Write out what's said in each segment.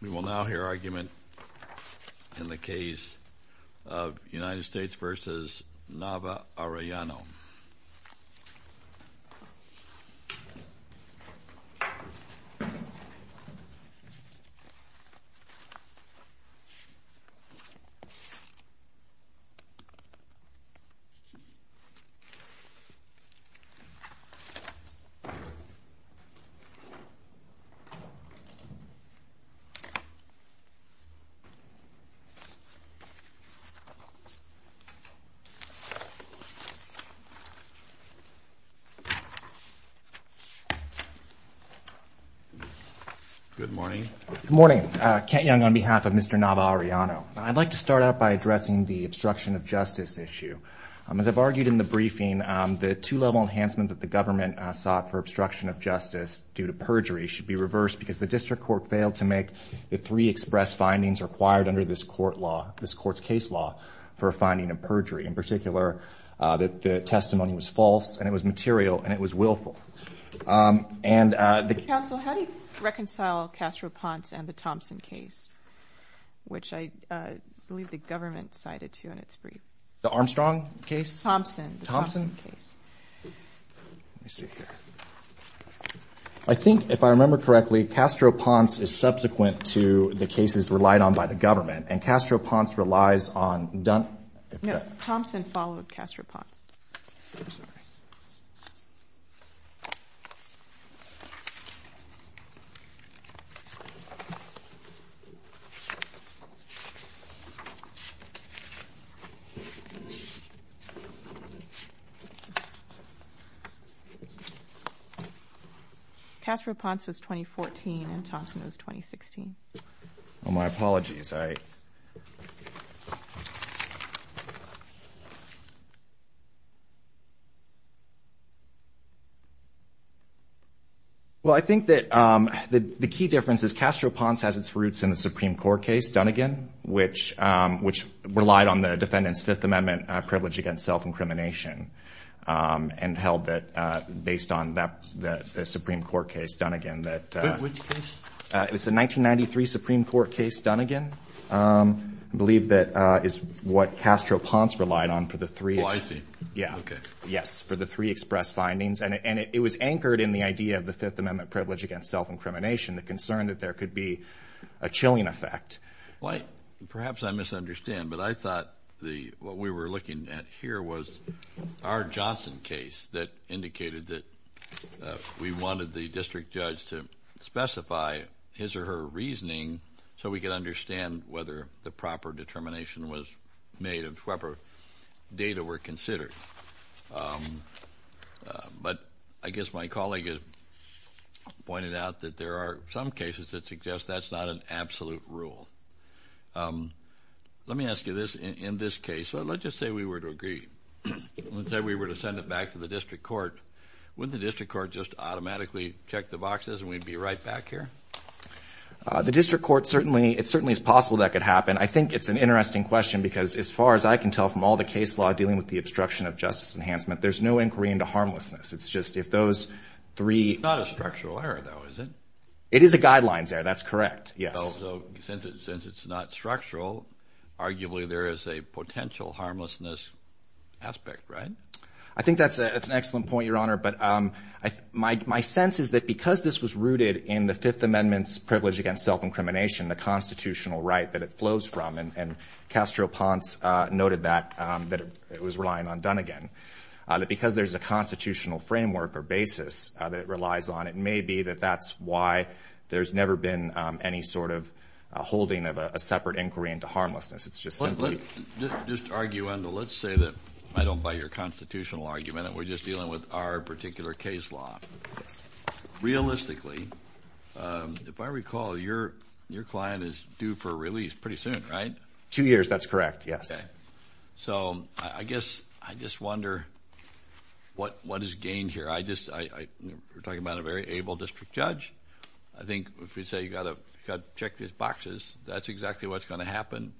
We will now hear argument in the case of United States v. Nava-Arellano. Good morning. Good morning. Kent Young on behalf of Mr. Nava-Arellano. I'd like to start out by addressing the obstruction of justice issue. As I've argued in the briefing, the two-level enhancement that the government sought for obstruction of justice due to perjury should be reversed because the district court failed to make the three express findings required under this court's case law for finding a perjury. In particular, that the testimony was false and it was material and it was willful. Counsel, how do you reconcile Castro-Ponce and the Thompson case, which I believe the government cited, too, in its brief? The Armstrong case? Thompson. Thompson? Let me see here. I think, if I remember correctly, Castro-Ponce is subsequent to the cases relied on by the government, and Castro-Ponce relies on Dunn and Dunn? No, Thompson followed Castro-Ponce. I'm sorry. Castro-Ponce was 2014 and Thompson was 2016. Well, my apologies. Well, I think that the key difference is Castro-Ponce has its roots in the Supreme Court case, Dunn again, which relied on the defendant's Fifth Amendment privilege against self-incrimination and held that based on the Supreme Court case Dunn again. Which case? It's a 1993 Supreme Court case Dunn again. I believe that is what Castro-Ponce relied on for the three. Oh, I see. Yeah. Okay. Yes, for the three express findings, and it was anchored in the idea of the Fifth Amendment privilege against self-incrimination, the concern that there could be a chilling effect. Well, perhaps I misunderstand, but I thought what we were looking at here was our Johnson case that indicated that we wanted the district judge to specify his or her reasoning so we could understand whether the proper determination was made of whatever data were considered. But I guess my colleague had pointed out that there are some cases that suggest that's not an absolute rule. Let me ask you this. In this case, let's just say we were to agree. Let's say we were to send it back to the district court. Would the district court just automatically check the boxes and we'd be right back here? The district court, it certainly is possible that could happen. I think it's an interesting question because as far as I can tell from all the case law dealing with the obstruction of justice enhancement, there's no inquiry into harmlessness. It's just if those three... It's not a structural error though, is it? It is a guidelines error. That's correct. Yes. Since it's not structural, arguably there is a potential harmlessness aspect, right? I think that's an excellent point, Your Honor. But my sense is that because this was rooted in the Fifth Amendment's privilege against self-incrimination, the constitutional right that it flows from, and Castro-Ponce noted that it was relying on Dunnegan, that because there's a constitutional framework or basis that it relies on, it may be that that's why there's never been any sort of holding of a separate inquiry into harmlessness. It's just simply... Let's just argue on the... Let's say that I don't buy your constitutional argument and we're just dealing with our particular case law. Realistically, if I recall, your client is due for release pretty soon, right? Two years. That's correct. Yes. Okay. So I guess I just wonder what is gained here. I just... We're talking about a very able district judge. I think if we say you got to check these boxes, that's exactly what's going to happen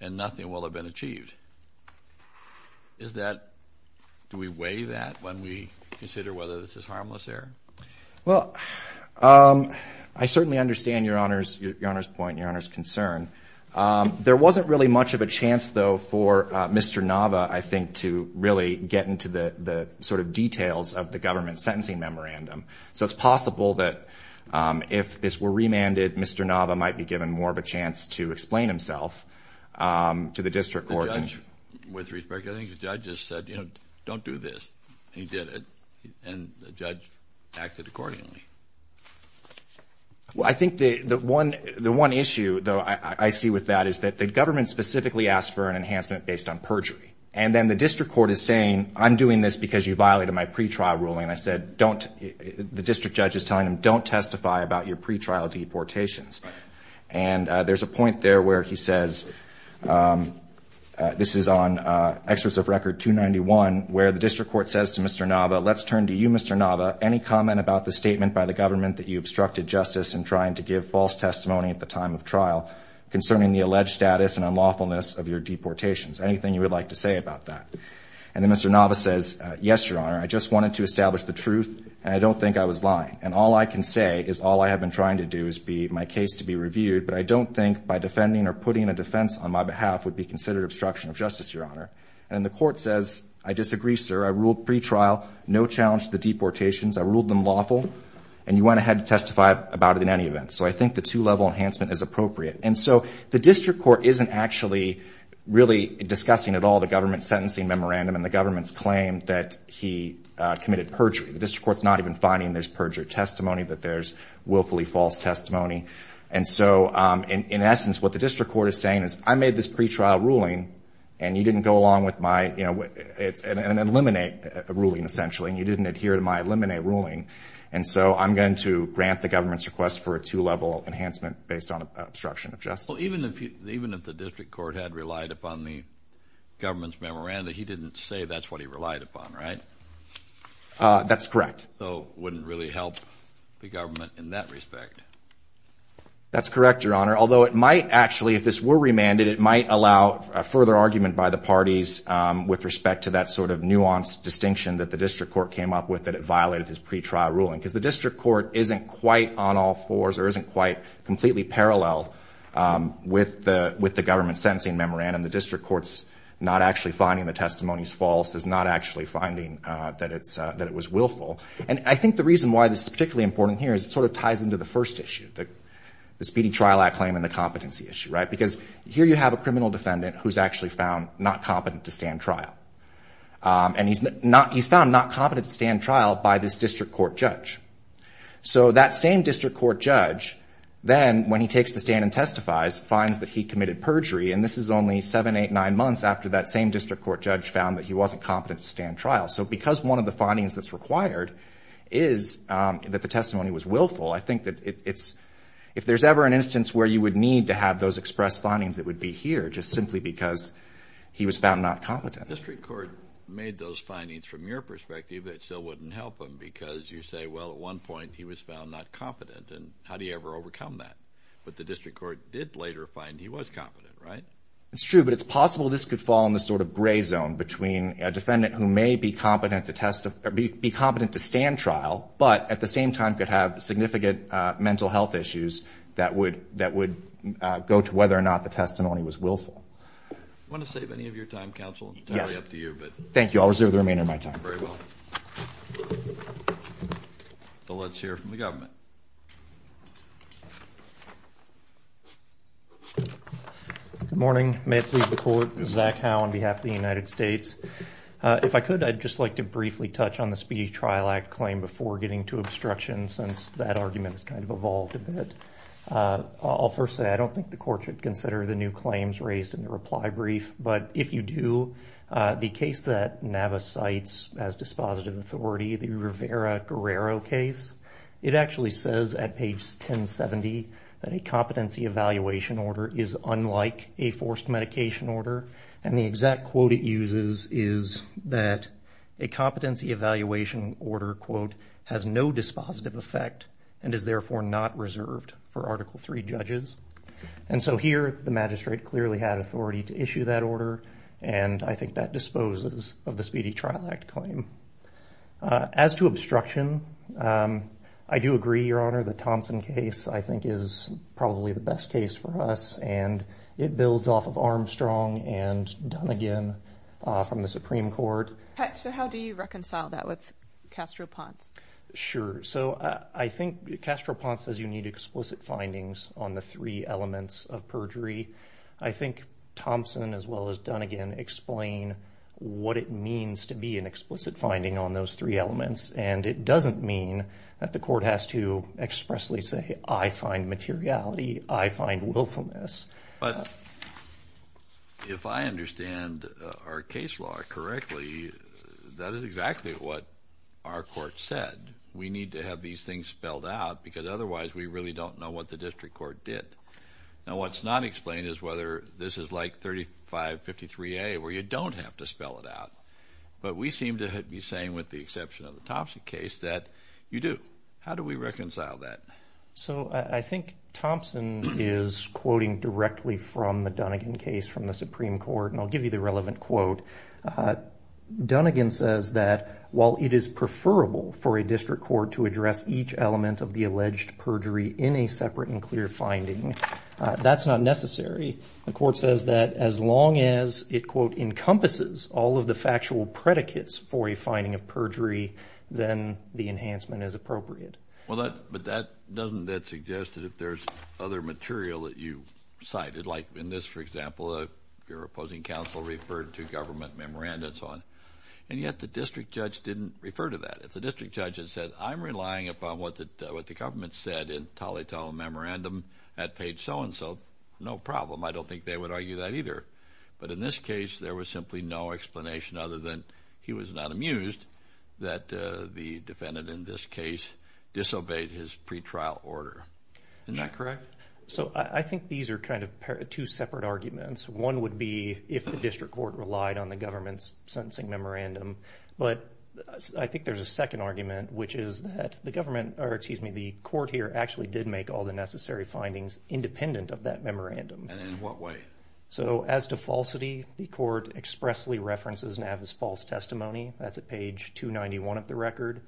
and nothing will have been achieved. Is that... Do we weigh that when we consider whether this is harmless error? Well, I certainly understand your Honor's point and your Honor's concern. There wasn't really much of a chance though for Mr. Nava, I think, to really get into the sort of details of the Mr. Nava might be given more of a chance to explain himself to the district court. With respect, I think the judge just said, you know, don't do this. He did it and the judge acted accordingly. Well, I think the one issue though I see with that is that the government specifically asked for an enhancement based on perjury. And then the district court is saying, I'm doing this because you violated my pretrial ruling. I think the judge is telling him, don't testify about your pretrial deportations. And there's a point there where he says, this is on excerpts of record 291, where the district court says to Mr. Nava, let's turn to you, Mr. Nava, any comment about the statement by the government that you obstructed justice in trying to give false testimony at the time of trial concerning the alleged status and unlawfulness of your deportations. Anything you would like to say about that? And then Mr. Nava says, yes, your Honor. I just wanted to establish the truth and I don't think I was lying. And all I can say is all I have been trying to do is be my case to be reviewed, but I don't think by defending or putting a defense on my behalf would be considered obstruction of justice, your Honor. And the court says, I disagree, sir. I ruled pretrial, no challenge to the deportations. I ruled them lawful and you went ahead to testify about it in any event. So I think the two level enhancement is appropriate. And so the district court isn't actually really discussing at all the government sentencing memorandum and the government's claim that he committed perjury. The district court's not even finding there's perjury testimony, that there's willfully false testimony. And so in essence, what the district court is saying is I made this pretrial ruling and you didn't go along with my, you know, it's an eliminate ruling essentially, and you didn't adhere to my eliminate ruling. And so I'm going to grant the government's request for a two level enhancement based on obstruction of justice. Well, even if you, even if the district court had relied upon the government's memoranda, he didn't say that's what he relied upon, right? That's correct. So wouldn't really help the government in that respect. That's correct, your Honor. Although it might actually, if this were remanded, it might allow a further argument by the parties with respect to that sort of nuanced distinction that the district court came up with, that it violated his pretrial ruling. Because the with the government's sentencing memorandum, the district court's not actually finding the testimony's false, is not actually finding that it's, that it was willful. And I think the reason why this is particularly important here is it sort of ties into the first issue, the speeding trial act claim and the competency issue, right? Because here you have a criminal defendant who's actually found not competent to stand trial. And he's not, he's found not competent to stand trial by this district court judge. So that same district court judge, then when he takes the stand and testifies, finds that he committed perjury. And this is only seven, eight, nine months after that same district court judge found that he wasn't competent to stand trial. So because one of the findings that's required is that the testimony was willful, I think that it's, if there's ever an instance where you would need to have those expressed findings, it would be here just simply because he was found not competent. District court made those findings from your perspective, it still wouldn't help him because you say, well, at one point he was found not competent and how do you ever overcome that? But the district court did later find he was competent, right? It's true, but it's possible this could fall in the sort of gray zone between a defendant who may be competent to test, or be competent to stand trial, but at the same time could have significant mental health issues that would, that would go to whether or not the testimony was willful. Do you want to save any of your time, counsel? Yes. Totally up to you, but. Thank you. I'll reserve the remainder of my time. Very well. So let's hear from the government. Good morning. May it please the court, Zach Howe on behalf of the United States. If I could, I'd just like to briefly touch on the Speedy Trial Act claim before getting to obstruction since that argument has kind of evolved a bit. I'll first say I don't think the court should consider the new claims raised in the reply brief, but if you do, the case that NAVA cites as dispositive authority, the Rivera Guerrero case, it actually says at page 1070 that a competency evaluation order is unlike a forced medication order. And the exact quote it uses is that a competency evaluation order, quote, has no dispositive effect and is therefore not reserved for Article III judges. And so here the magistrate clearly had authority to issue that order. And I think that disposes of the Speedy Trial Act claim. As to obstruction, I do agree, Your Honor, the Thompson case I think is probably the best case for us. And it builds off of Armstrong and Dunnigan from the Supreme Court. So how do you reconcile that with Castro-Ponce? Sure. So I think Castro-Ponce says you need explicit findings on the three elements of perjury. I think Thompson as well as Dunnigan explain what it means to be an explicit finding on those three elements. And it doesn't mean that the court has to expressly say, I find materiality, I find willfulness. But if I understand our case law correctly, that is exactly what our court said. We need to have these things spelled out because otherwise we really don't know what the district court did. Now what's not explained is whether this is like 3553A where you don't have to spell it out. But we seem to be saying with the exception of the Thompson case that you do. How do we reconcile that? So I think Thompson is quoting directly from the Dunnigan case from the Supreme Court. And I'll give you the relevant quote. Dunnigan says that while it is preferable for a district court to address each element of the alleged perjury in a separate and clear finding, that's not necessary. The court says that as long as it, quote, encompasses all of the factual predicates for a finding of perjury, then the enhancement is appropriate. Well, but doesn't that suggest that if there's other material that you cited, like in this, for example, your opposing counsel referred to government memoranda and so on. And yet the district judge didn't refer to that. The district judge had said, I'm relying upon what the government said in Tolley Tolley memorandum at page so and so. No problem. I don't think they would argue that either. But in this case, there was simply no explanation other than he was not amused that the defendant in this case disobeyed his pretrial order. Isn't that correct? So I think these are kind of two separate arguments. One would be if the district court relied on the government's sentencing memorandum. But I think there's a second argument, which is that the government, or excuse me, the court here actually did make all the necessary findings independent of that memorandum. And in what way? So as to falsity, the court expressly references Nava's false testimony. That's at page 291 of the record.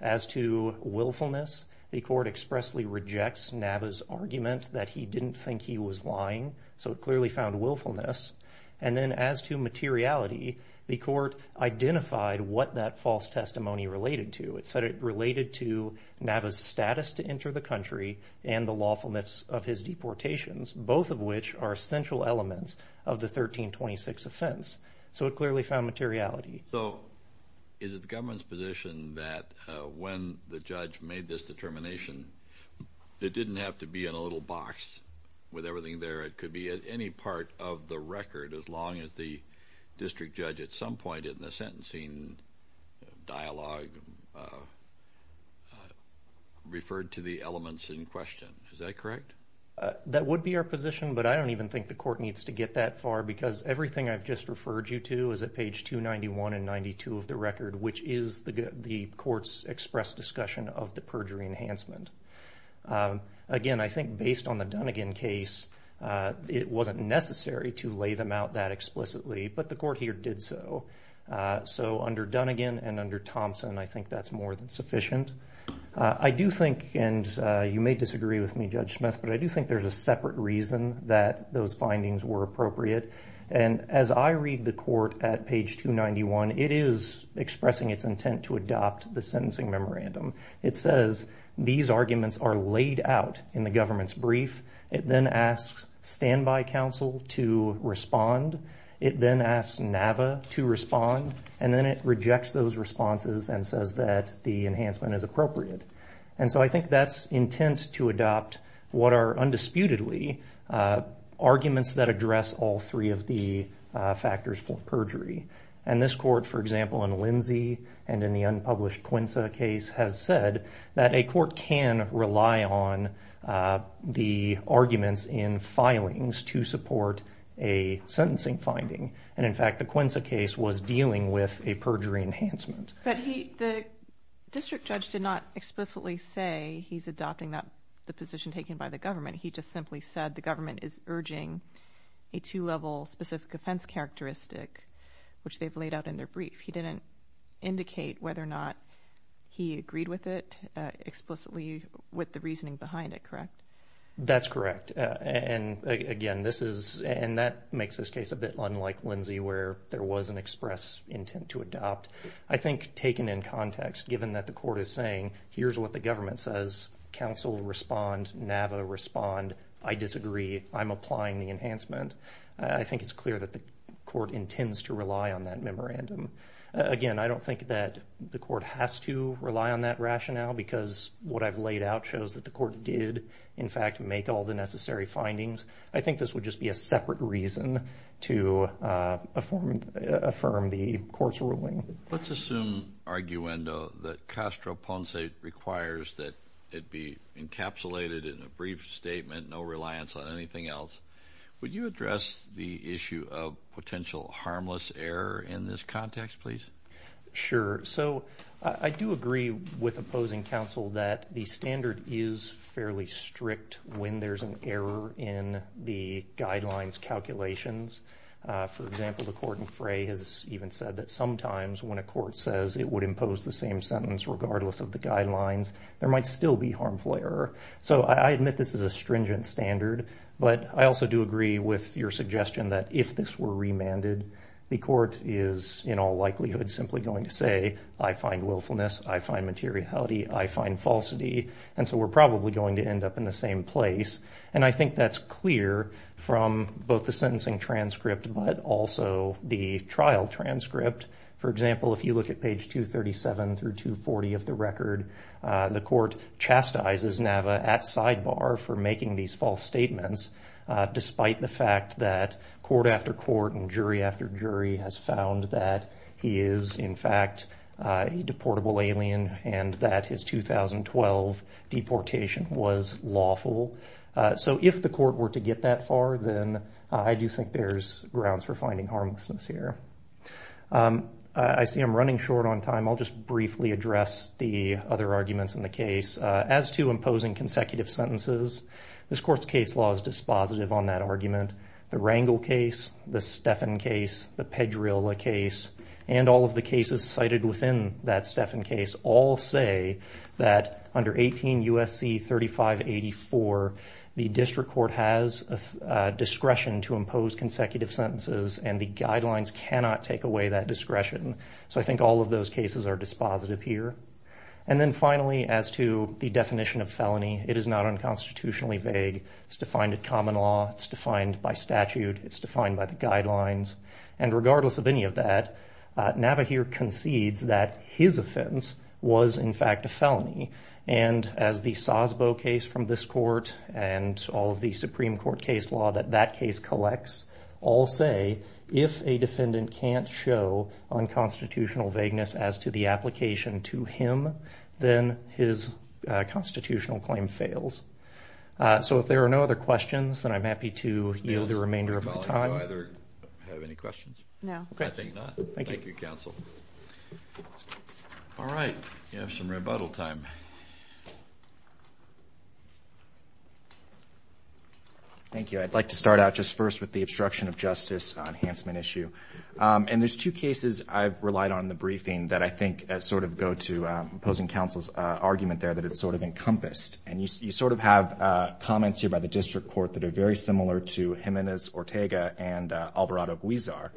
As to willfulness, the court expressly rejects Nava's argument that he didn't think he was lying. So it clearly found willfulness. And then as to materiality, the court identified what that false testimony related to. It said it related to Nava's status to enter the country and the lawfulness of his deportations, both of which are essential elements of the 1326 offense. So it clearly found materiality. So is it the government's position that when the judge made this determination, it didn't have to be in a little box with everything there? It could be at any part of the record as long as the district judge at some point in the sentencing dialogue referred to the elements in question. Is that correct? That would be our position, but I don't even think the court needs to get that far because everything I've just referred you to is at page 291 and 92 of the record, which is the court's expressed discussion of the perjury enhancement. Again, I think based on the Dunnegan case, it wasn't necessary to lay them out that explicitly, but the court here did so. So under Dunnegan and under Thompson, I think that's more than sufficient. I do think, and you may disagree with me, Judge Smith, but I do think there's a separate reason that those findings were appropriate. And as I read the court at page 291, it is expressing its intent to adopt the sentencing memorandum. It says these arguments are laid out in the government's brief. It then asks standby counsel to respond. It then asks NAVA to respond, and then it rejects those responses and says that the enhancement is appropriate. And so I think that's intent to adopt what are undisputedly arguments that address all three of the factors for perjury. And this court, for example, in Lindsay and in the unpublished Quinza case, has said that a court can rely on the arguments in filings to support a sentencing finding. And in fact, the Quinza case was dealing with a perjury enhancement. But the district judge did not explicitly say he's adopting the position taken by the government. He just simply said the government is urging a two-level specific offense characteristic which they've laid out in their brief. He didn't indicate whether or not he agreed with it explicitly with the reasoning behind it, correct? That's correct. And again, this is, and that makes this case a bit unlike Lindsay where there was an express intent to adopt. I think taken in context, given that the court is saying here's what the government says, I'm applying the enhancement. I think it's clear that the court intends to rely on that memorandum. Again, I don't think that the court has to rely on that rationale because what I've laid out shows that the court did, in fact, make all the necessary findings. I think this would just be a separate reason to affirm the court's ruling. Let's assume, arguendo, that Castro Ponce requires that it be encapsulated in a brief statement, no reliance on anything else. Would you address the issue of potential harmless error in this context, please? Sure. So I do agree with opposing counsel that the standard is fairly strict when there's an error in the guidelines calculations. For example, the court in Frey has even said that sometimes when a court says it would impose the same sentence regardless of the guidelines, there might still be harmful error. So I admit this is a stringent standard, but I also do agree with your suggestion that if this were remanded, the court is in all likelihood simply going to say, I find willfulness, I find materiality, I find falsity, and so we're probably going to end up in the same place. And I think that's clear from both the sentencing transcript, but also the trial transcript. For example, if you look at page 237 through 240 of the record, the court chastises Nava at sidebar for making these false statements, despite the fact that court after court and jury after jury has found that he is in fact a deportable alien and that his 2012 deportation was lawful. So if the court were to get that far, then I do think there's grounds for finding harmlessness here. I see I'm running short on time. I'll just briefly address the other arguments in the case. As to imposing consecutive sentences, this court's case law is dispositive on that argument. The Rangel case, the Steffen case, the Pedrillo case, and all of the cases cited within that Steffen case all say that under 18 U.S.C. 3584, the district court has discretion to So I think all of those cases are dispositive here. And then finally, as to the definition of felony, it is not unconstitutionally vague. It's defined in common law. It's defined by statute. It's defined by the guidelines. And regardless of any of that, Nava here concedes that his offense was in fact a felony. And as the Sosbo case from this court and all of the Supreme Court case law that that If a defendant can't show unconstitutional vagueness as to the application to him, then his constitutional claim fails. So if there are no other questions, then I'm happy to yield the remainder of the time. Do either have any questions? No, I think not. Thank you, counsel. All right, we have some rebuttal time. Thank you. I'd like to start out just first with the obstruction of justice enhancement issue. And there's two cases I've relied on in the briefing that I think sort of go to opposing counsel's argument there that it's sort of encompassed. And you sort of have comments here by the district court that are very similar to Jimenez Ortega and Alvarado Guizar.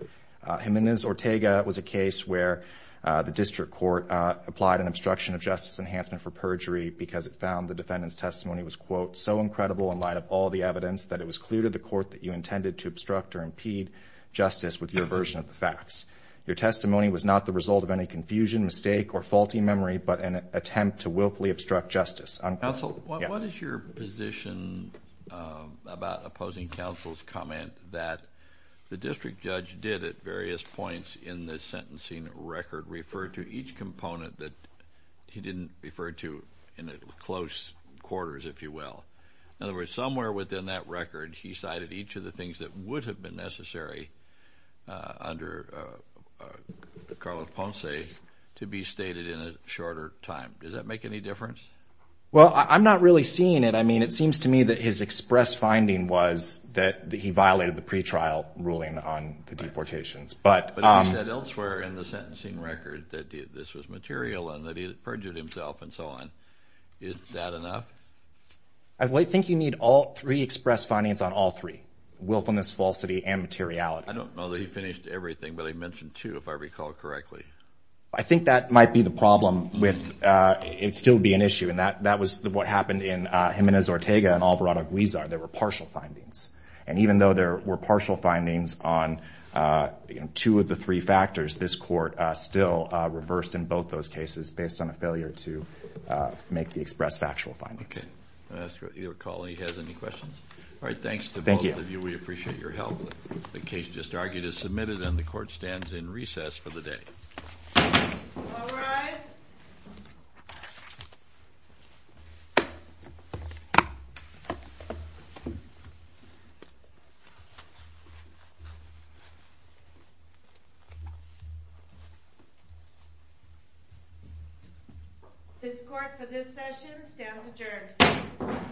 Jimenez Ortega was a case where the district court applied an obstruction of justice enhancement for perjury because it found the defendant's testimony was, quote, so incredible in light of all the evidence that it was clear to the court that you intended to obstruct or impede justice with your version of the facts. Your testimony was not the result of any confusion, mistake, or faulty memory, but an attempt to willfully obstruct justice. Counsel, what is your position about opposing counsel's comment that the district judge did at various points in the sentencing record refer to each component that he didn't refer to in close quarters, if you will? In other words, somewhere within that record, he cited each of the things that would have been necessary under the Carlos Ponce to be stated in a shorter time. Does that make any difference? Well, I'm not really seeing it. I mean, it seems to me that his express finding was that he violated the pretrial ruling on the deportations. But he said elsewhere in the sentencing record that this was material and that he had perjured himself and so on. Is that enough? I think you need all three express findings on all three, willfulness, falsity, and materiality. I don't know that he finished everything, but he mentioned two, if I recall correctly. I think that might be the problem with, it'd still be an issue. And that was what happened in Jimenez-Ortega and Alvarado-Guizar. There were partial findings. And even though there were partial findings on two of the three factors, this court still reversed in both those cases based on a failure to make the express factual findings. Your colleague has any questions? All right. Thanks to both of you. We appreciate your help. The case just argued is submitted, and the court stands in recess for the day. All rise. This court, for this session, stands adjourned.